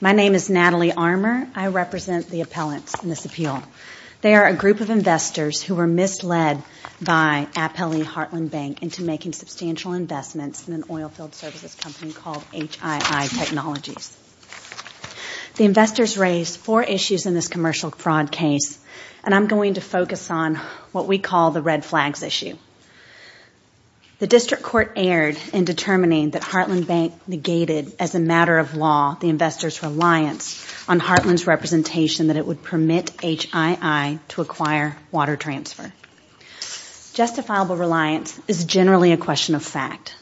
My name is Natalie Armour. I represent the appellants in this appeal. They are a group of investors who were misled by Appellee Heartland Bank into making substantial investments in an oilfield services company called HII Technologies. The investors raised four issues in this commercial fraud case, and I'm going to focus on what we call the red flags issue. The district court erred in determining that Heartland Bank negated, as a matter of law, the investors' reliance on Heartland's representation that it would permit HII to acquire water transfer. Justifiable reliance is generally a question of fact,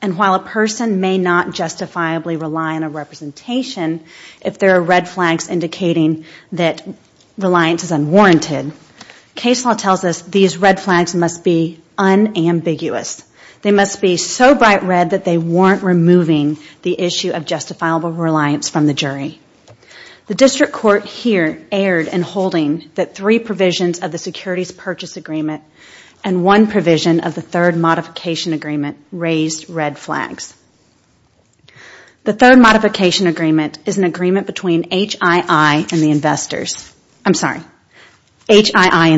and while a person may not justifiably rely on a representation if there are red flags indicating that reliance is unwarranted, case law tells us these red flags must be unambiguous. They must be so bright red that they warrant removing the issue of justifiable reliance from the jury. The district court here erred in holding that three provisions of the securities purchase agreement and one provision of the third modification agreement raised red flags. The third modification agreement is an agreement between HII and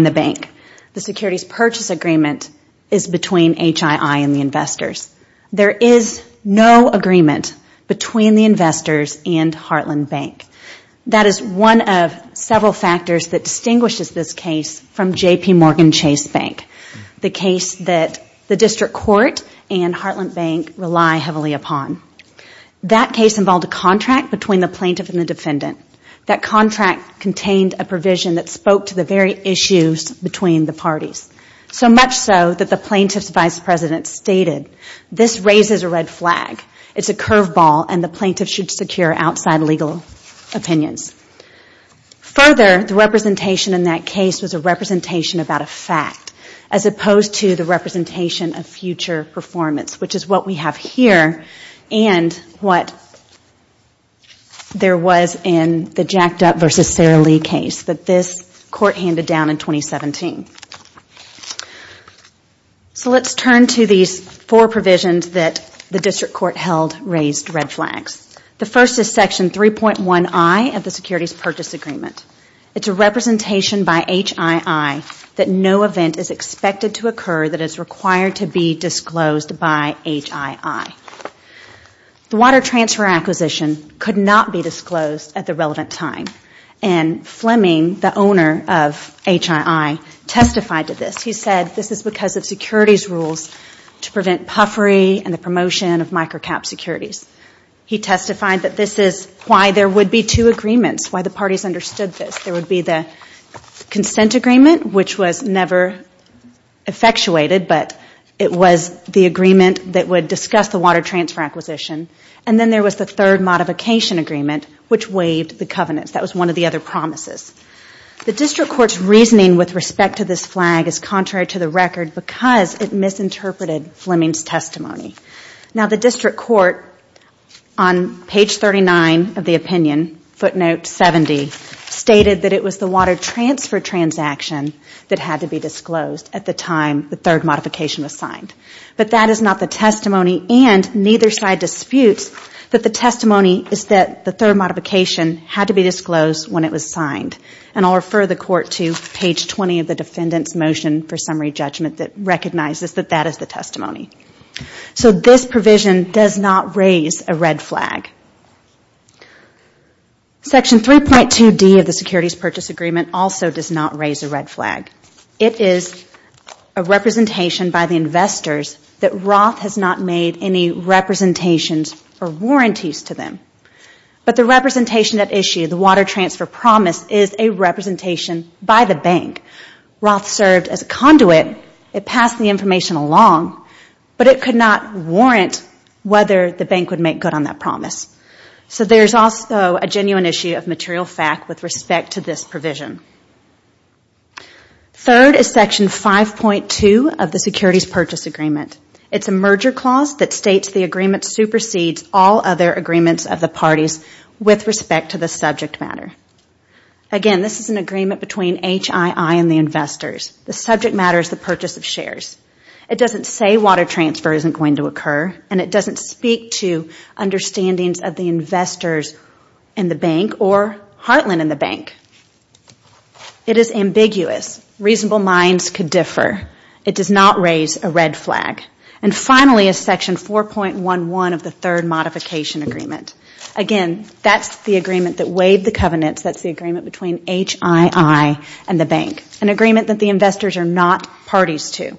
the bank. The securities purchase agreement is between HII and the investors. There is no agreement between the investors and Heartland Bank. That is one of several factors that distinguishes this case from the case that the district court and Heartland Bank rely heavily upon. That case involved a contract between the plaintiff and the defendant. That contract contained a provision that spoke to the very issues between the parties, so much so that the plaintiff's vice president stated this raises a red flag. It is a curveball and the plaintiff should secure outside legal opinions. Further, the representation in that case was a representation about a fact as opposed to the representation of future performance, which is what we have here and what there was in the Jacked Up v. Sarah Lee case that this court handed down in 2017. So let's turn to these four provisions that the district court held raised red flags. The first is section 3.1i of the securities purchase agreement. It is a representation by HII that no event is expected to occur that is required to be disclosed by HII. The water transfer acquisition could not be disclosed at the relevant time and Fleming, the owner of HII, testified to this. He said this is because of securities rules to prevent puffery and the promotion of micro cap securities. He testified that this is why there would be two agreements, why the parties understood this. There would be the consent agreement, which was never effectuated, but it was the agreement that would discuss the water transfer acquisition. And then there was the third modification agreement, which waived the covenants. That was one of the other promises. The district court's reasoning with respect to this flag is contrary to the record because it misinterpreted Fleming's testimony. Now the district court, on page 39 of the opinion, footnote 70, stated that it was the water transfer transaction that had to be disclosed at the time the third modification was signed. But that is not the testimony and neither side disputes that the testimony is that the third modification had to be disclosed when it was signed. And I'll refer the court to page 20 of the defendant's motion for summary judgment that recognizes that that is the case. So this provision does not raise a red flag. Section 3.2D of the Securities Purchase Agreement also does not raise a red flag. It is a representation by the investors that Roth has not made any representations or warranties to them. But the representation at issue, the water transfer promise, is a representation by the bank. Roth served as a conduit. It passed the information along, but it could not warrant whether the bank would make good on that promise. So there is also a genuine issue of material fact with respect to this provision. Third is Section 5.2 of the Securities Purchase Agreement. It is a merger clause that states the agreement supersedes all other agreements of the parties with respect to the subject matter. Again, this is an agreement between HII and the investors. The subject matter is the purchase of shares. It doesn't say water transfer isn't going to occur and it doesn't speak to understandings of the investors and the bank or Heartland and the bank. It is ambiguous. Reasonable minds could differ. It does not raise a red flag. And finally is Section 4.11 of the Third Modification Agreement. Again, that's the agreement that is between HII and the bank. An agreement that the investors are not parties to.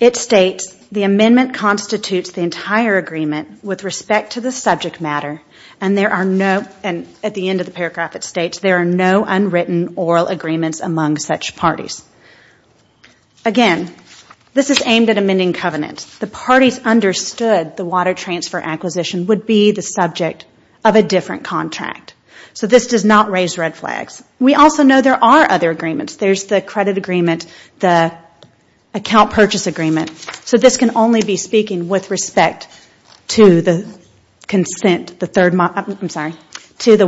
It states the amendment constitutes the entire agreement with respect to the subject matter and there are no, at the end of the paragraph it states, there are no unwritten oral agreements among such parties. Again, this is aimed at amending covenants. The parties understood the water transfer acquisition would be the subject of a different contract. So this does not raise red flags. We also know there are other agreements. There's the credit agreement, the account purchase agreement. So this can only be speaking with respect to the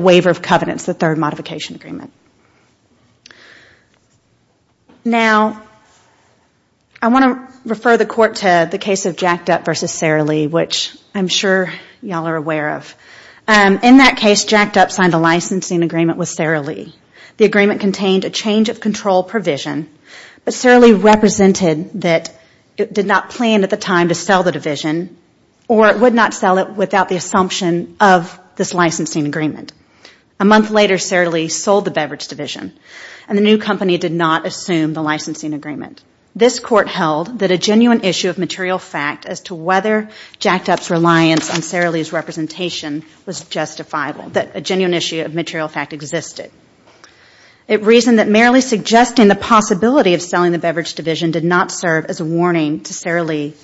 waiver of covenants, the Third Modification Agreement. Now, I want to refer the Court to the case of Jacked Up v. Sara Lee, which I'm sure y'all are aware of. In that case, Jacked Up signed a licensing agreement with Sara Lee. The agreement contained a change of control provision, but Sara Lee represented that it did not plan at the time to sell the division or it would not sell it without the assumption of this and the new company did not assume the licensing agreement. This Court held that a genuine issue of material fact as to whether Jacked Up's reliance on Sara Lee's representation was justifiable, that a genuine issue of material fact existed. It reasoned that merely suggesting the possibility of selling the beverage division did not serve as a warning to Sara Lee,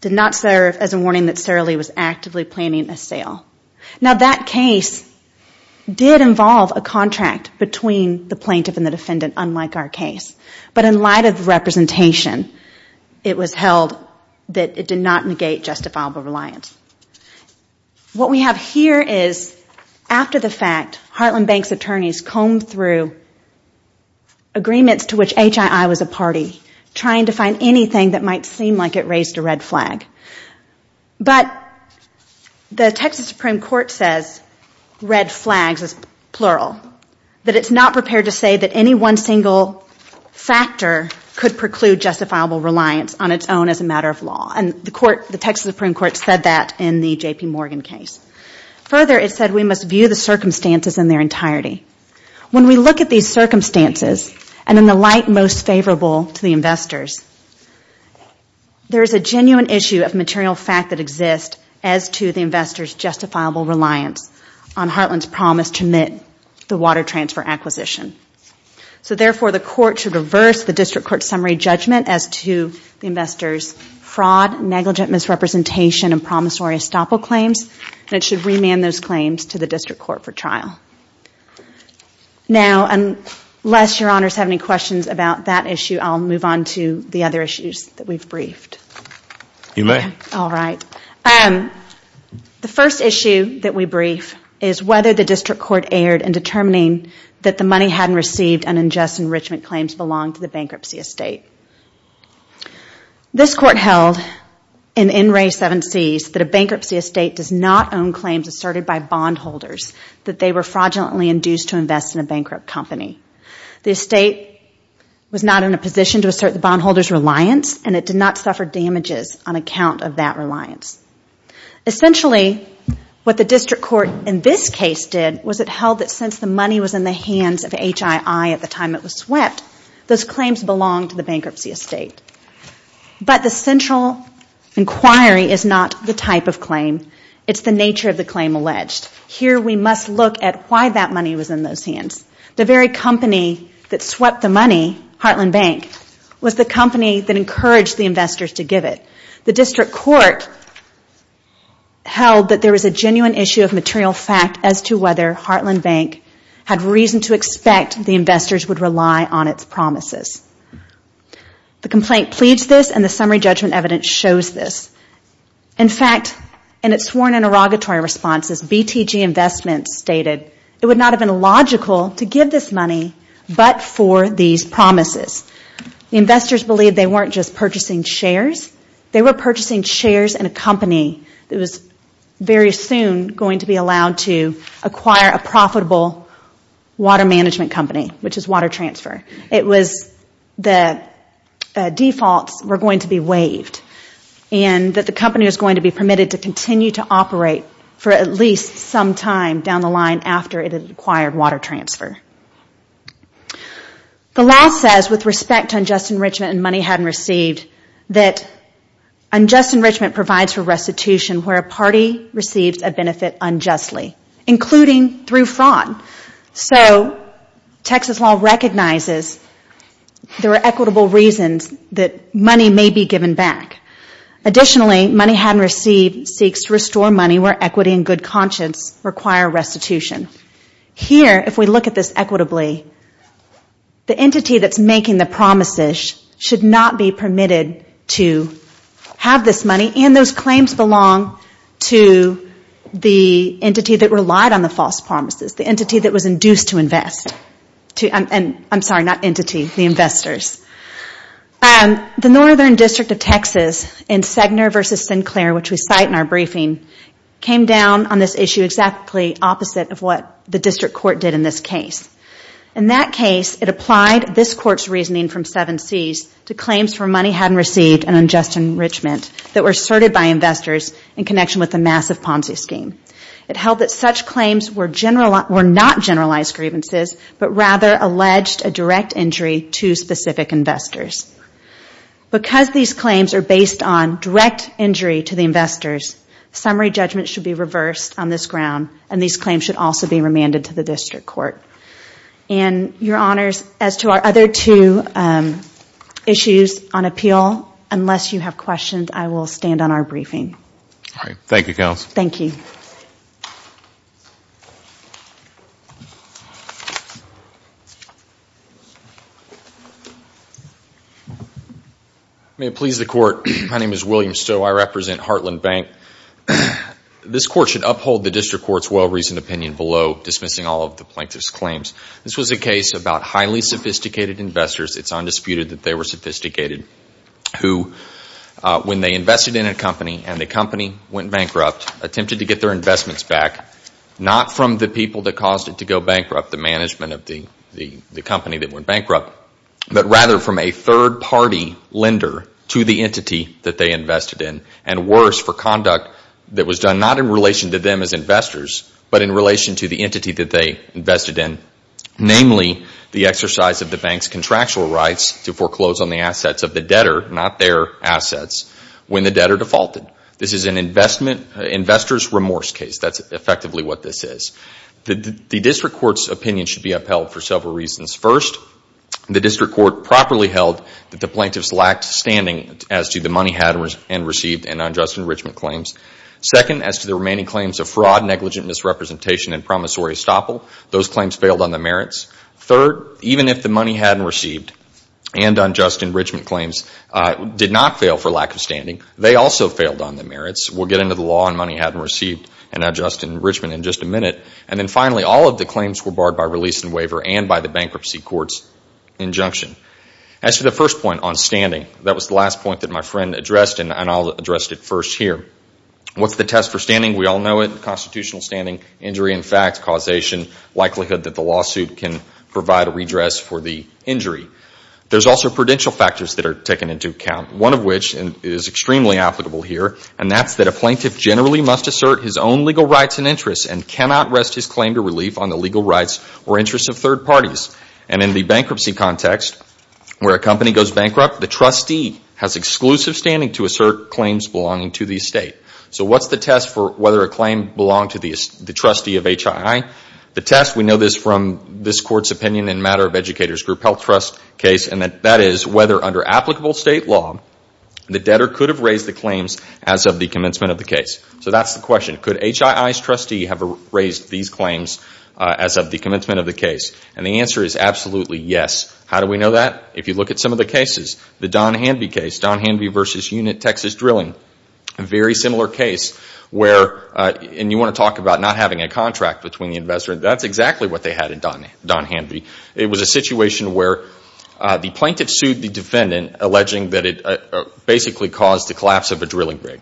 did not serve as a warning that Sara Lee was actively planning a sale. Now that case did involve a contract between the plaintiff and the defendant, unlike our case. But in light of the representation, it was held that it did not negate justifiable reliance. What we have here is, after the fact, Heartland Bank's attorneys combed through agreements to which HII was a party, trying to find anything that might seem like it raised a red flag. But the Texas Supreme Court says, red flags is plural, that it is not prepared to say that any one single factor could preclude justifiable reliance on its own as a matter of law and the Texas Supreme Court said that in the JP Morgan case. Further, it said we must view the circumstances in their entirety. When we look at these circumstances and in light most favorable to the investors, there is a genuine issue of material fact that exists as to the investor's justifiable reliance on Heartland's promise to admit the water transfer acquisition. So therefore, the court should reverse the district court's summary judgment as to the investor's fraud, negligent misrepresentation and promissory estoppel claims and it should remand those claims to the district court for trial. Now, unless your honors have any questions about that issue, I will move on to the other issues that we have briefed. The first issue that we brief is whether the district court erred in determining that the money hadn't received and unjust enrichment claims belonged to the bankruptcy estate. This court held in NRA 7Cs that a bankruptcy estate does not own claims asserted by bond holders fraudulently induced to invest in a bankrupt company. The estate was not in a position to assert the bondholder's reliance and it did not suffer damages on account of that reliance. Essentially, what the district court in this case did was it held that since the money was in the hands of HII at the time it was swept, those claims belonged to the bankruptcy estate. But the central inquiry is not the type of claim, it's the nature of the claim alleged. Here we must look at why that money was in those hands. The very company that swept the money, Heartland Bank, was the company that encouraged the investors to give it. The district court held that there was a genuine issue of material fact as to whether Heartland Bank had reason to expect the investors would rely on its promises. The complaint pleads this and the summary judgment evidence shows this. In fact, in sworn interrogatory responses, BTG Investments stated it would not have been logical to give this money but for these promises. The investors believed they weren't just purchasing shares, they were purchasing shares in a company that was very soon going to be allowed to acquire a profitable water management company, which is Water Transfer. The defaults were going to be waived and that the company was going to be permitted to continue to operate for at least some time down the line after it had acquired Water Transfer. The law says, with respect to unjust enrichment and money hadn't received, that unjust enrichment provides for restitution where a party receives a benefit unjustly, including through fraud. So, Texas law recognizes there are equitable reasons that money may be given back. Additionally, money hadn't received seeks to restore money where equity and good conscience require restitution. Here if we look at this equitably, the entity that is making the promises should not be permitted to have this money and those claims belong to the entity that relied on the false promises, the entity that was induced to invest. I'm sorry, not entity, the investors. The Northern District of Texas in Segner v. Sinclair, which we cite in our briefing, came down on this issue exactly opposite of what the district court did in this case. In that case, it applied this court's reasoning from 7Cs to claims for money hadn't received and unjust enrichment that were asserted by investors in connection with the massive Ponzi scheme. It held that such claims were not generalized grievances, but rather alleged a direct injury to specific investors. Because these claims are based on direct injury to the investors, summary judgment should be reversed on this ground and these claims should also be remanded to the district court. Your Honors, as to our other two issues on appeal, unless you have questions, I will stand on our briefing. Thank you, Counsel. Thank you. May it please the Court, my name is William Stowe. I represent Heartland Bank. This Court should uphold the district court's well-reasoned opinion below dismissing all of the plaintiff's claims. This was a case about highly sophisticated investors. It's undisputed that they were bankrupt, attempted to get their investments back, not from the people that caused it to go bankrupt, the management of the company that went bankrupt, but rather from a third party lender to the entity that they invested in. And worse, for conduct that was done not in relation to them as investors, but in relation to the entity that they invested in. Namely, the exercise of the bank's contractual rights to foreclose on the assets of the debtor, not their assets, when the debtor defaulted. This is an investor's remorse case. That's effectively what this is. The district court's opinion should be upheld for several reasons. First, the district court properly held that the plaintiffs lacked standing as to the money had and received in unjust enrichment claims. Second, as to the remaining claims of fraud, negligent misrepresentation and promissory estoppel, those claims failed on the merits. Third, even if the money had and received and unjust enrichment claims did not fail for lack of standing, they also failed on the merits. We'll get into the law on money had and received and unjust enrichment in just a minute. And then finally, all of the claims were barred by release and waiver and by the bankruptcy court's injunction. As to the first point on standing, that was the last point that my friend addressed and I'll address it first here. What's the test for standing? We all know it. Constitutional standing, injury in fact, causation, likelihood that the lawsuit can provide a redress for the injury. There's also prudential factors that are taken into account, one of which is extremely applicable here and that's that a plaintiff generally must assert his own legal rights and interests and cannot rest his claim to relief on the legal rights or interests of third parties. And in the bankruptcy context, where a company goes bankrupt, the trustee has exclusive standing to assert claims belonging to the estate. So what's the test for whether a claim belonged to the trustee of HII? The test, we know this from this court's opinion in matter of educator's group health trust case and that is whether under applicable state law, the debtor could have raised the claims as of the commencement of the case. So that's the question. Could HII's trustee have raised these claims as of the commencement of the case? And the answer is absolutely yes. How do we know that? If you look at some of the cases, the Don Hanvey case, Don Hanvey versus Unit Texas Drilling, a very similar case where, and you want to talk about not having a contract between the investor, that's exactly what they had in Don Hanvey. It was a situation where the plaintiff sued the defendant alleging that it basically caused the collapse of a drilling rig.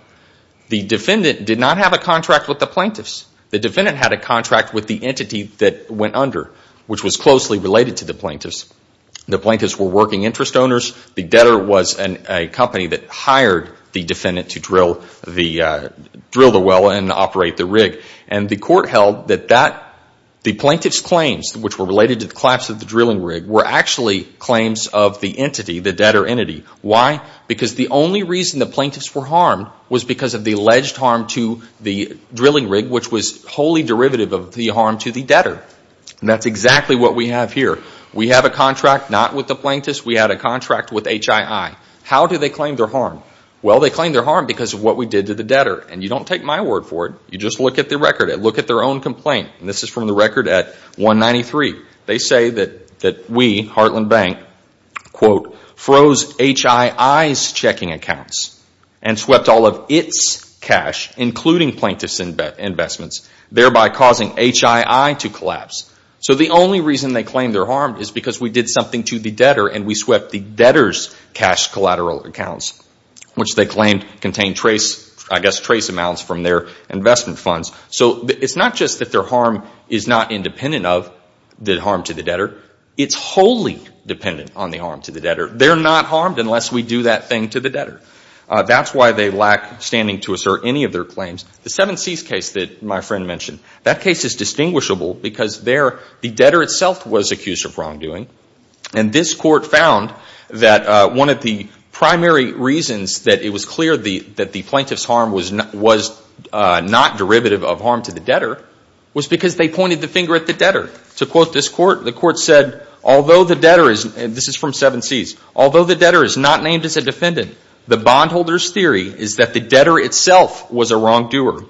The defendant did not have a contract with the plaintiffs. The defendant had a contract with the entity that went under, which was closely related to the plaintiffs. The plaintiffs were working interest owners. The debtor was a company that hired the defendant to drill the well and operate the rig. And the court held that the plaintiff's claims, which were related to the collapse of the drilling rig, were actually claims of the entity, the debtor entity. Why? Because the only reason the plaintiffs were harmed was because of the alleged harm to the drilling rig, which was wholly derivative of the harm to the debtor. And that's exactly what we have here. We have a contract not with the plaintiffs. We had a contract with HII. How do they claim their harm? Well, they claim their harm because of what we did to the debtor. You don't take my word for it. You just look at the record. Look at their own complaint. This is from the record at 193. They say that we, Heartland Bank, quote, froze HII's checking accounts and swept all of its cash, including plaintiffs' investments, thereby causing HII to collapse. So the only reason they claim they're harmed is because we did something to the debtor and we swept the debtor's cash collateral accounts, which they claimed contained I guess trace amounts from their investment funds. So it's not just that their harm is not independent of the harm to the debtor. It's wholly dependent on the harm to the debtor. They're not harmed unless we do that thing to the debtor. That's why they lack standing to assert any of their claims. The Seven Seas case that my friend mentioned, that case is distinguishable because the debtor itself was accused of wrongdoing. And this court found that one of the primary reasons that it was clear that the plaintiff's harm was not derivative of harm to the debtor was because they pointed the finger at the debtor. To quote this court, the court said, although the debtor is not named as a defendant, the bondholder's theory is that the debtor itself was a wrongdoer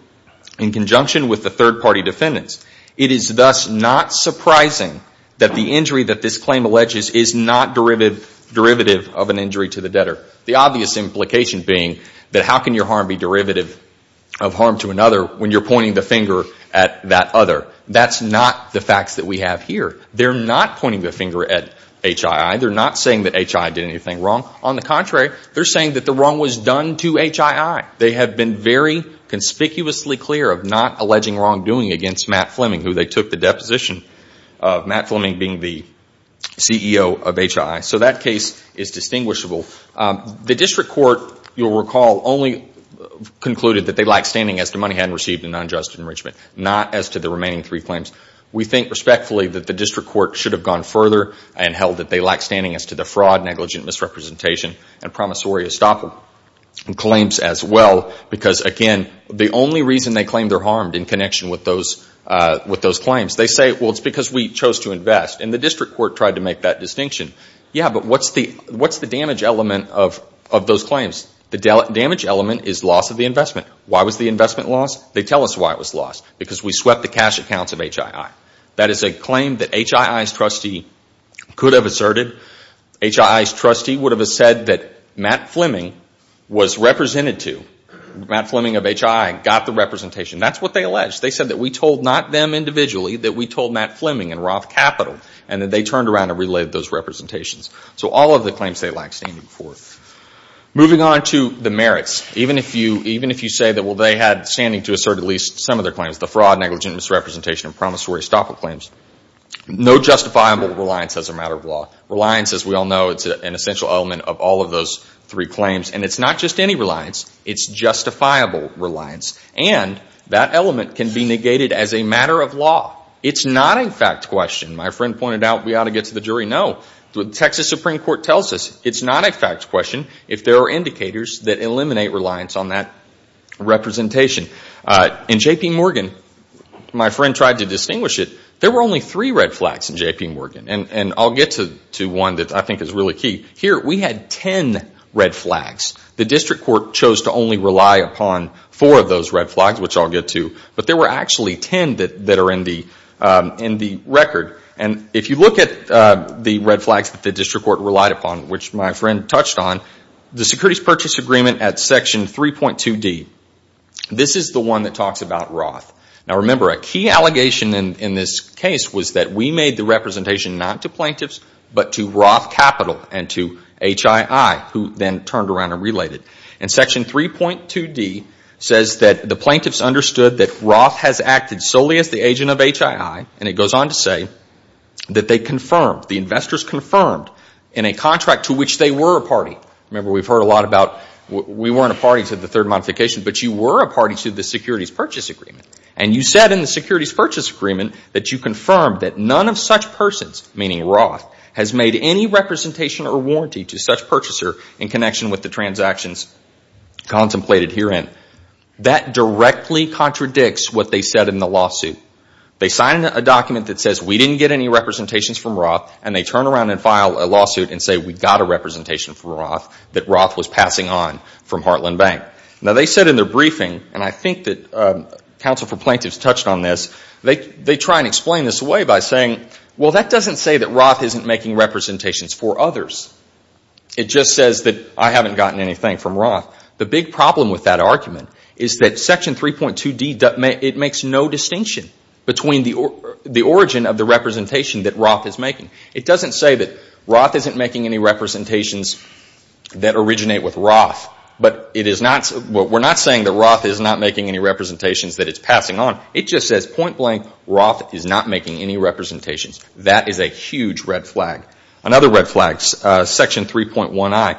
in conjunction with the third party defendants. It is thus not surprising that the injury that this claim alleges is not derivative of an injury to the debtor. The obvious implication being that how can your harm be derivative of harm to another when you're pointing the finger at that other? That's not the facts that we have here. They're not pointing the finger at HII. They're not saying that HII did anything wrong. On the contrary, they're saying that the wrong was done to HII. They have been very conspicuously clear of not alleging wrongdoing against Matt Fleming, who they took the deposition of Matt Fleming. The district court, you'll recall, only concluded that they lack standing as to money hadn't received in unjust enrichment, not as to the remaining three claims. We think respectfully that the district court should have gone further and held that they lack standing as to the fraud, negligent misrepresentation, and promissory estoppel claims as well, because again, the only reason they claim they're harmed in connection with those claims, they say, well, it's because we chose to invest. And the district court tried to make that of those claims. The damage element is loss of the investment. Why was the investment lost? They tell us why it was lost. Because we swept the cash accounts of HII. That is a claim that HII's trustee could have asserted. HII's trustee would have said that Matt Fleming was represented to. Matt Fleming of HII got the representation. That's what they alleged. They said that we told not them individually, that we told Matt Fleming and Roth Capital, and that they turned around and relayed those representations. So all of the claims they Moving on to the merits. Even if you say that, well, they had standing to assert at least some of their claims, the fraud, negligent misrepresentation, and promissory estoppel claims, no justifiable reliance as a matter of law. Reliance, as we all know, is an essential element of all of those three claims. And it's not just any reliance. It's justifiable reliance. And that element can be negated as a matter of law. It's not a fact question. My friend pointed out we ought to get to the jury. No. The Texas Supreme Court tells us it's not a fact question if there are indicators that eliminate reliance on that representation. In J.P. Morgan, my friend tried to distinguish it. There were only three red flags in J.P. Morgan. And I'll get to one that I think is really key. Here we had ten red flags. The district court chose to only rely upon four of those red flags, which I'll get to. But there were actually ten that are in the record. And if you look at the red flags that the my friend touched on, the Securities Purchase Agreement at Section 3.2D, this is the one that talks about Roth. Now, remember, a key allegation in this case was that we made the representation not to plaintiffs, but to Roth Capital and to HII, who then turned around and relayed it. And Section 3.2D says that the plaintiffs understood that Roth has acted solely as the agent of HII, and it goes on to say that they confirmed, the investors confirmed in a contract to which they were a party. Remember, we've heard a lot about we weren't a party to the third modification, but you were a party to the Securities Purchase Agreement. And you said in the Securities Purchase Agreement that you confirmed that none of such persons, meaning Roth, has made any representation or warranty to such purchaser in connection with the transactions contemplated herein. That directly contradicts what they said in the lawsuit. They sign a document that says we didn't get any representations from Roth, and they turn around and file a lawsuit and say we got a representation from Roth that Roth was passing on from Heartland Bank. Now, they said in their briefing, and I think that counsel for plaintiffs touched on this, they try and explain this away by saying, well, that doesn't say that Roth isn't making representations for others. It just says that I haven't gotten anything from Roth. The big problem with that argument is that Roth is making. It doesn't say that Roth isn't making any representations that originate with Roth, but we're not saying that Roth is not making any representations that it's passing on. It just says, point blank, Roth is not making any representations. That is a huge red flag. Another red flag, Section 3.1i.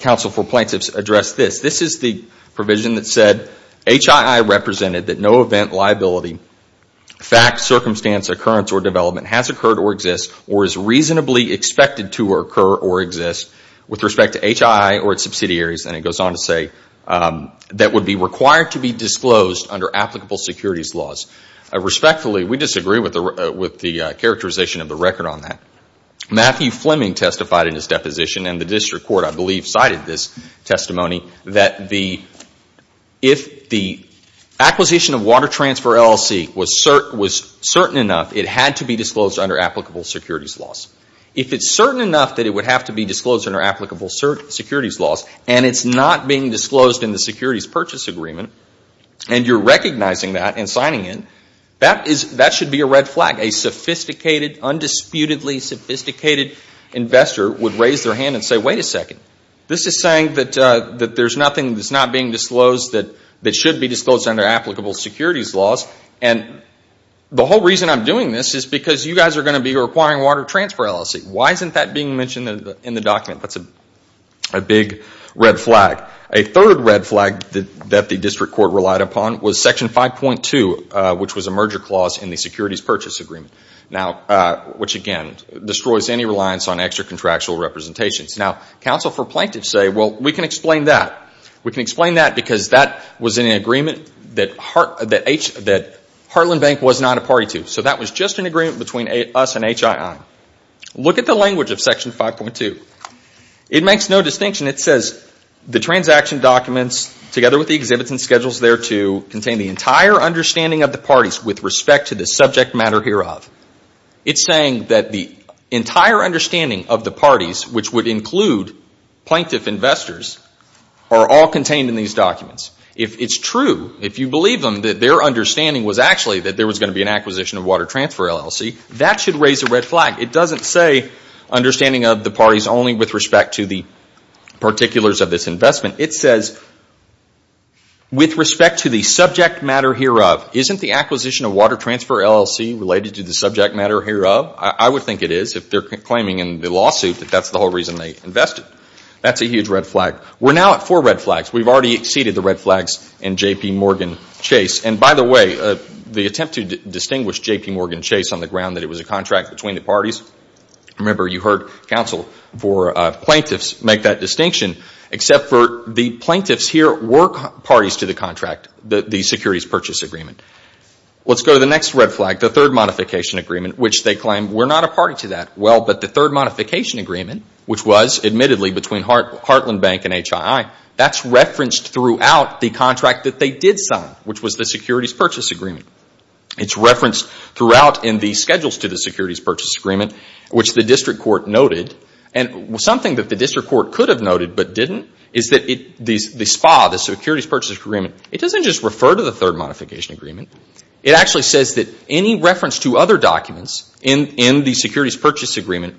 Counsel for Plaintiffs addressed this. This is the provision that said HII represented that no event, liability, fact, circumstance, occurrence or development has occurred or exists or is reasonably expected to occur or exist with respect to HII or its subsidiaries, and it goes on to say that would be required to be disclosed under applicable securities laws. Respectfully, we disagree with the characterization of the record on that. Matthew Fleming testified in his deposition and the district court, I believe, cited this testimony that if the acquisition of water transfer LLC was certain enough, it had to be disclosed under applicable securities laws. If it's certain enough that it would have to be disclosed under applicable securities laws and it's not being disclosed in the securities purchase agreement and you're recognizing that and signing it, that should be a red flag. A sophisticated, undisputedly sophisticated investor would raise their hand and say, wait a second, this is saying that there's nothing that's not being disclosed that should be disclosed under applicable securities laws and the whole reason I'm doing this is because you guys are going to be requiring water transfer LLC. Why isn't that being mentioned in the document? That's a big red flag. A third red flag that the district court relied upon was Section 5.2, which was a merger clause in the securities purchase agreement. Now, which again, destroys any reliance on extra money. We can explain that because that was in an agreement that Heartland Bank was not a party to. So that was just an agreement between us and HII. Look at the language of Section 5.2. It makes no distinction. It says the transaction documents together with the exhibits and schedules thereto contain the entire understanding of the parties with respect to the subject matter hereof. It's saying that the entire understanding of the parties, which would include plaintiff investors, are all contained in these documents. If it's true, if you believe them that their understanding was actually that there was going to be an acquisition of water transfer LLC, that should raise a red flag. It doesn't say understanding of the parties only with respect to the particulars of this investment. It says with respect to the subject matter hereof. Isn't the acquisition of water transfer LLC related to the subject matter hereof? I would think it is if they're claiming in the lawsuit that that's the whole reason they invested. That's a huge red flag. We're now at four red flags. We've already exceeded the red flags in J.P. Morgan Chase. And by the way, the attempt to distinguish J.P. Morgan Chase on the ground that it was a contract between the parties, remember you heard counsel for plaintiffs make that distinction. Except for the plaintiffs here were parties to the contract, the securities purchase agreement. Let's go to the next red flag, the third modification agreement, which they claim we're not a party to that. Well, but the third modification agreement, which was admittedly between Heartland Bank and HII, that's referenced throughout the contract that they did sign, which was the securities purchase agreement. It's referenced throughout in the schedules to the securities purchase agreement, which the district court noted. And something that the district court could have noted but didn't is that the SPA, the securities purchase agreement, it doesn't just refer to the third modification agreement. It actually says that any reference to other securities purchase agreement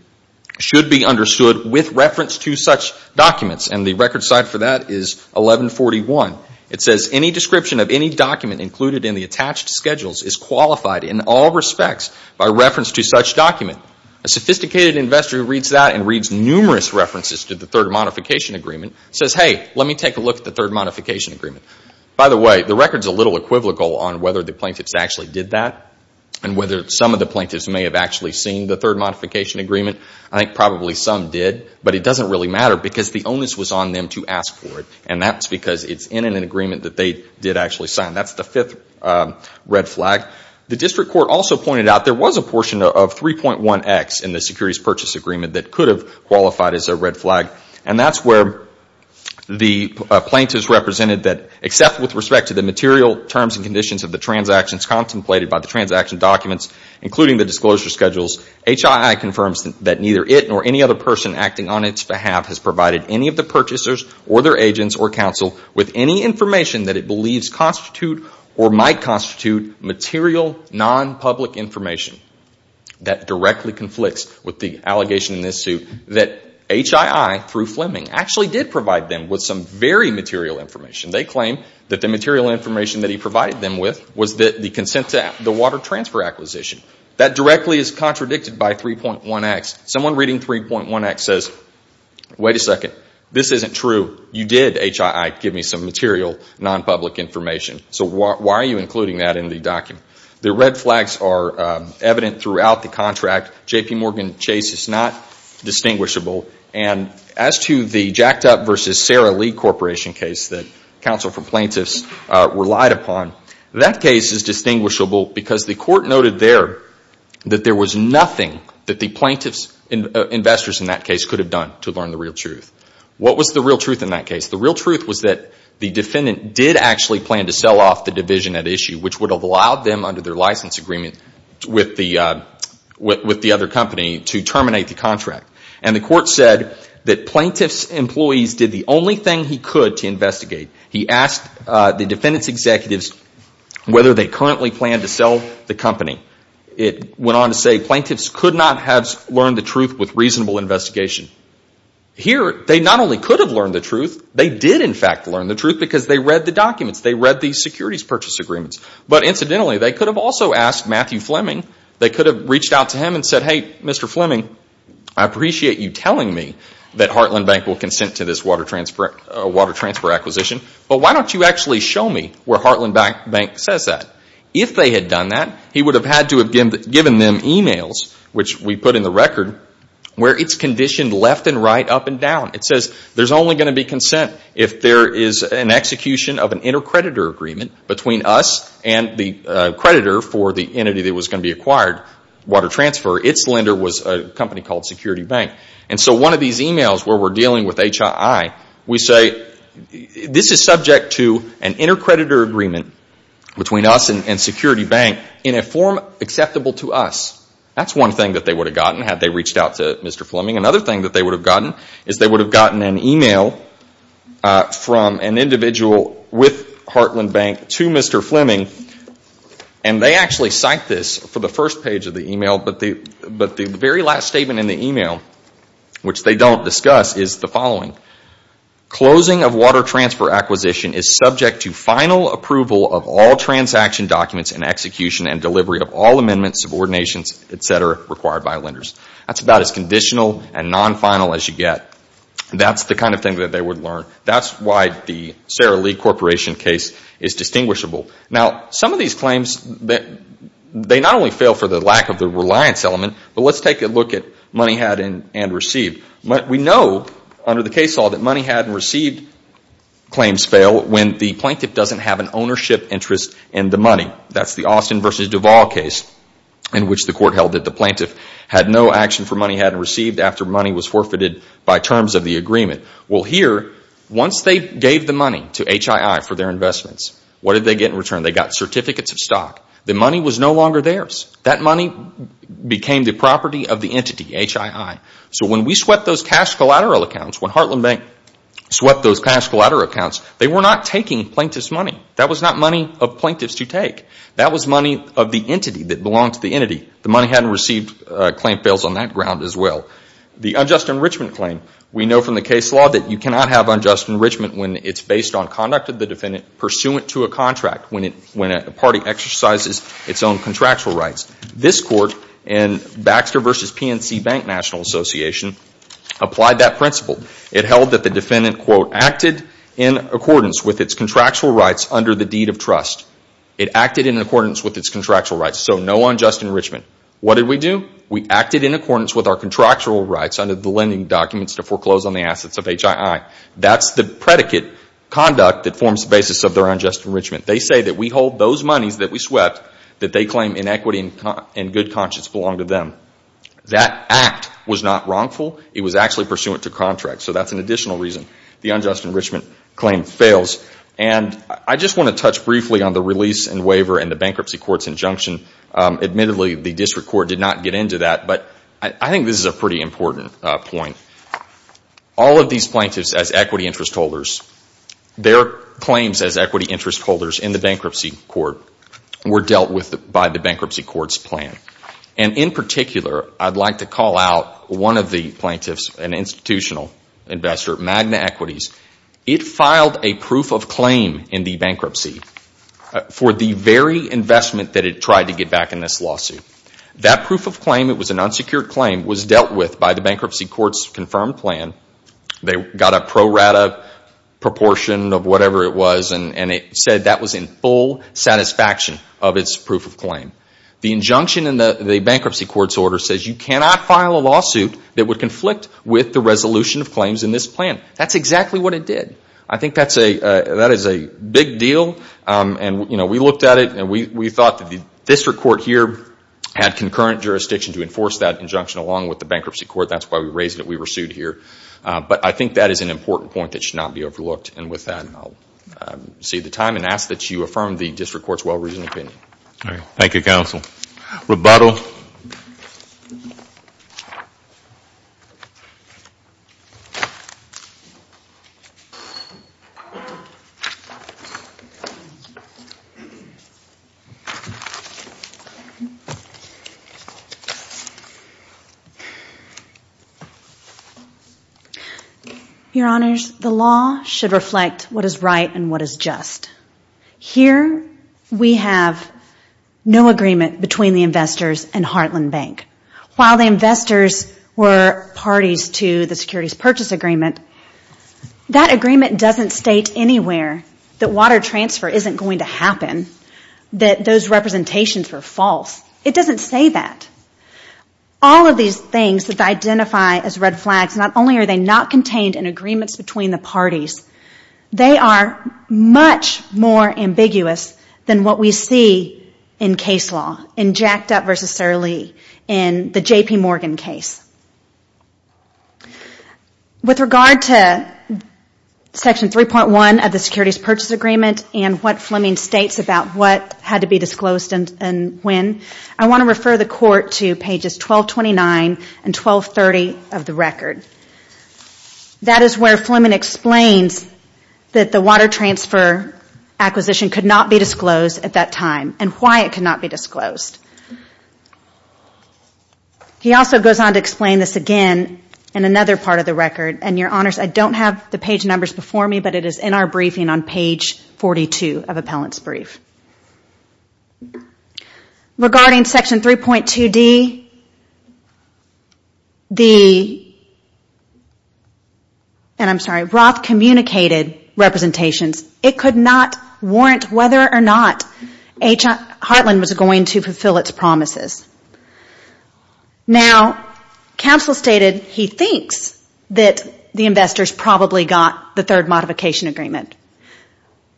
should be understood with reference to such documents. And the record site for that is 1141. It says any description of any document included in the attached schedules is qualified in all respects by reference to such document. A sophisticated investor who reads that and reads numerous references to the third modification agreement says, hey, let me take a look at the third modification agreement. By the way, the record is a little equivocal on whether the plaintiffs actually did that and whether some of the third modification agreement, I think probably some did, but it doesn't really matter because the onus was on them to ask for it. And that's because it's in an agreement that they did actually sign. That's the fifth red flag. The district court also pointed out there was a portion of 3.1X in the securities purchase agreement that could have qualified as a red flag. And that's where the plaintiffs represented that except with respect to the material terms and conditions of the transactions contemplated by the transaction documents, including the HII confirms that neither it nor any other person acting on its behalf has provided any of the purchasers or their agents or counsel with any information that it believes constitute or might constitute material non-public information. That directly conflicts with the allegation in this suit that HII through Fleming actually did provide them with some very material information. They claim that the material information that he provided them with was the consent to the transfer acquisition. That directly is contradicted by 3.1X. Someone reading 3.1X says, wait a second, this isn't true. You did, HII, give me some material non-public information. So why are you including that in the document? The red flags are evident throughout the contract. JPMorgan Chase is not distinguishable. And as to the jacked up versus Sara Lee Corporation case that counsel for plaintiffs relied upon, that case is distinguishable because the court noted there that there was nothing that the plaintiff's investors in that case could have done to learn the real truth. What was the real truth in that case? The real truth was that the defendant did actually plan to sell off the division at issue, which would have allowed them under their license agreement with the other company to terminate the contract. And the court said that plaintiff's employees did the only thing he could to investigate. He asked the defendant's executives whether they currently planned to sell the company. It went on to say plaintiffs could not have learned the truth with reasonable investigation. Here they not only could have learned the truth, they did, in fact, learn the truth because they read the documents. They read the securities purchase agreements. But incidentally, they could have also asked Matthew Fleming, they could have reached out to him and said, hey, Mr. Fleming, I appreciate you telling me that Heartland Bank will consent to this water transfer acquisition, but why don't you actually show me where Heartland Bank says that? If they had done that, he would have had to have given them e-mails, which we put in the record, where it's conditioned left and right, up and down. It says there's only going to be consent if there is an execution of an inter-creditor agreement between us and the creditor for the entity that was going to be acquired, water transfer. Its lender was a company called Security Bank. And so one of these e-mails where we're dealing with HII, we say this is subject to an inter-creditor agreement between us and Security Bank in a form acceptable to us. That's one thing that they would have gotten had they reached out to Mr. Fleming. Another thing that they would have gotten is they would have gotten an e-mail from an individual with Heartland Bank to Mr. Fleming, and they actually cite this for the first page of the e-mail, but the very last statement in the e-mail, which they don't discuss, is the following. Closing of water transfer acquisition is subject to final approval of all transaction documents and execution and delivery of all amendments, subordinations, etc., required by lenders. That's about as conditional and non-final as you get. That's the kind of thing that they would learn. That's why the Sara Lee Corporation case is distinguishable. Now, some of these claims, they not only fail for the lack of the reliance element, but let's take a look at money had and received. We know under the case law that money had and received claims fail when the plaintiff doesn't have an ownership interest in the money. That's the Austin v. Duval case in which the court after money was forfeited by terms of the agreement. Well, here, once they gave the money to HII for their investments, what did they get in return? They got certificates of stock. The money was no longer theirs. That money became the property of the entity, HII. So when we swept those cash collateral accounts, when Heartland Bank swept those cash collateral accounts, they were not taking plaintiff's money. That was not money of plaintiffs to take. That was money of the entity that belonged to the entity. The money had and received claim fails on that ground as well. The unjust enrichment claim, we know from the case law that you cannot have unjust enrichment when it's based on conduct of the defendant pursuant to a contract, when a party exercises its own contractual rights. This court in Baxter v. PNC Bank National Association applied that principle. It held that the defendant quote, acted in accordance with its contractual rights under the deed of trust. It acted in accordance with our contractual rights under the lending documents to foreclose on the assets of HII. That's the predicate conduct that forms the basis of their unjust enrichment. They say that we hold those monies that we swept that they claim in equity and good conscience belong to them. That act was not wrongful. It was actually pursuant to contract. So that's an additional reason the unjust enrichment claim fails. And I just want to touch briefly on the release and waiver and the bankruptcy court's injunction. Admittedly, the district court did not get into that, but I think this is a pretty important point. All of these plaintiffs as equity interest holders, their claims as equity interest holders in the bankruptcy court were dealt with by the bankruptcy court's plan. And in particular, I'd like to call out one of the plaintiffs, an institutional investor, Magna Equities. It filed a proof of claim in the bankruptcy for the very investment that it tried to get back in this lawsuit. That proof of claim, it was an unsecured claim, was dealt with by the bankruptcy court's confirmed plan. They got a pro rata proportion of whatever it was and it said that was in full satisfaction of its proof of claim. The injunction in the bankruptcy court's order says you cannot file a lawsuit that would it did. I think that is a big deal and we looked at it and we thought that the district court here had concurrent jurisdiction to enforce that injunction along with the bankruptcy court. That's why we raised it. We were sued here. But I think that is an important point that should not be overlooked. And with that, I'll save the time and ask that you affirm the district court's well-reasoned opinion. Thank you, counsel. Rebuttal. Your Honors, the law should reflect what is right and what is just. Here, we have no agreement between the investors and Heartland Bank. While the investors were parties to the securities purchase agreement, that agreement doesn't state anywhere that water transfer isn't going to happen, that those representations were false. It doesn't say that. All of these things that identify as red flags, not only are they not contained in agreements between the parties, they are much more ambiguous than what we see in case law, in Jacked Up v. Surlee, in the J.P. Morgan case. With regard to Section 3.1 of the securities purchase agreement and what Fleming states about what had to be disclosed and when, I want to refer the court to pages that the water transfer acquisition could not be disclosed at that time and why it could not be disclosed. He also goes on to explain this again in another part of the record. Your Honors, I don't have the page numbers before me, but it is in our briefing on page 3.1. Now, counsel stated he thinks that the investors probably got the third modification agreement.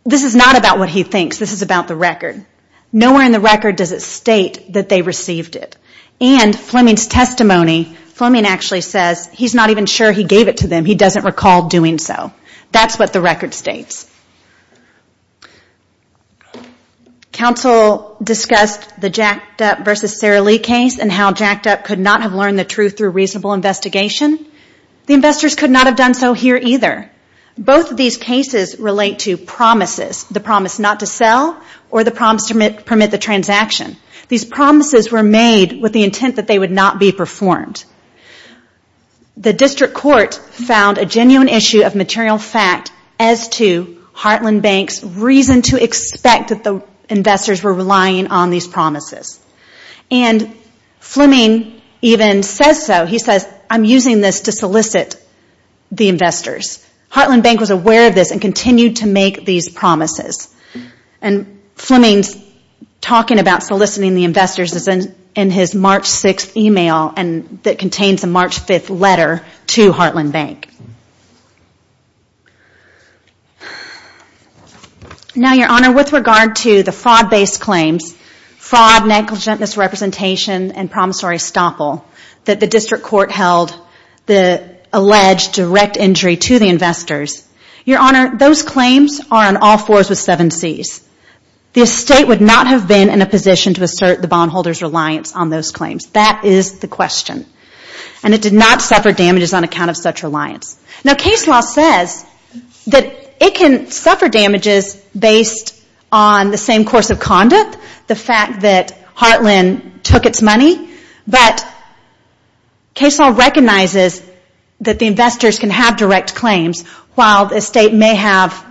This is not about what he thinks. This is about the record. Nowhere in the record does it state that they received it. And Fleming's testimony, Fleming actually says he's not even sure he gave it to them. He doesn't recall doing so. That's what the record states. Counsel discussed the Jacked Up v. Surlee case and how Jacked Up could not have learned the truth through reasonable investigation. The investors could not have done so here either. Both of these cases relate to promises, the promise not to sell or the promise to permit the transaction. These promises were made with the intent that they would not be sold. The district court found a genuine issue of material fact as to Heartland Bank's reason to expect that the investors were relying on these promises. And Fleming even says so. He says, I'm using this to solicit the investors. Heartland Bank was aware of this and continued to make these promises. Fleming's talking about soliciting the investors is in his March 6th email that contains a March 5th letter to Heartland Bank. Now Your Honor, with regard to the fraud based claims, fraud, negligent misrepresentation and promissory estoppel that the district court held the alleged direct injury to the investors. Your Honor, those claims are on all fours with seven C's. The estate would not have been in a position to make these claims. That is the question. And it did not suffer damages on account of such reliance. Now case law says that it can suffer damages based on the same course of conduct, the fact that Heartland took its money. But case law recognizes that the investors can have direct claims while the estate may have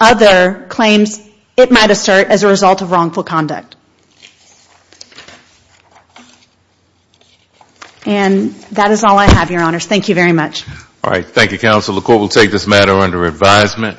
other claims it might assert as a result of wrongful conduct. And that is all I have, Your Honors. Thank you very much. Alright, thank you Counsel. The court will take this matter under advisement.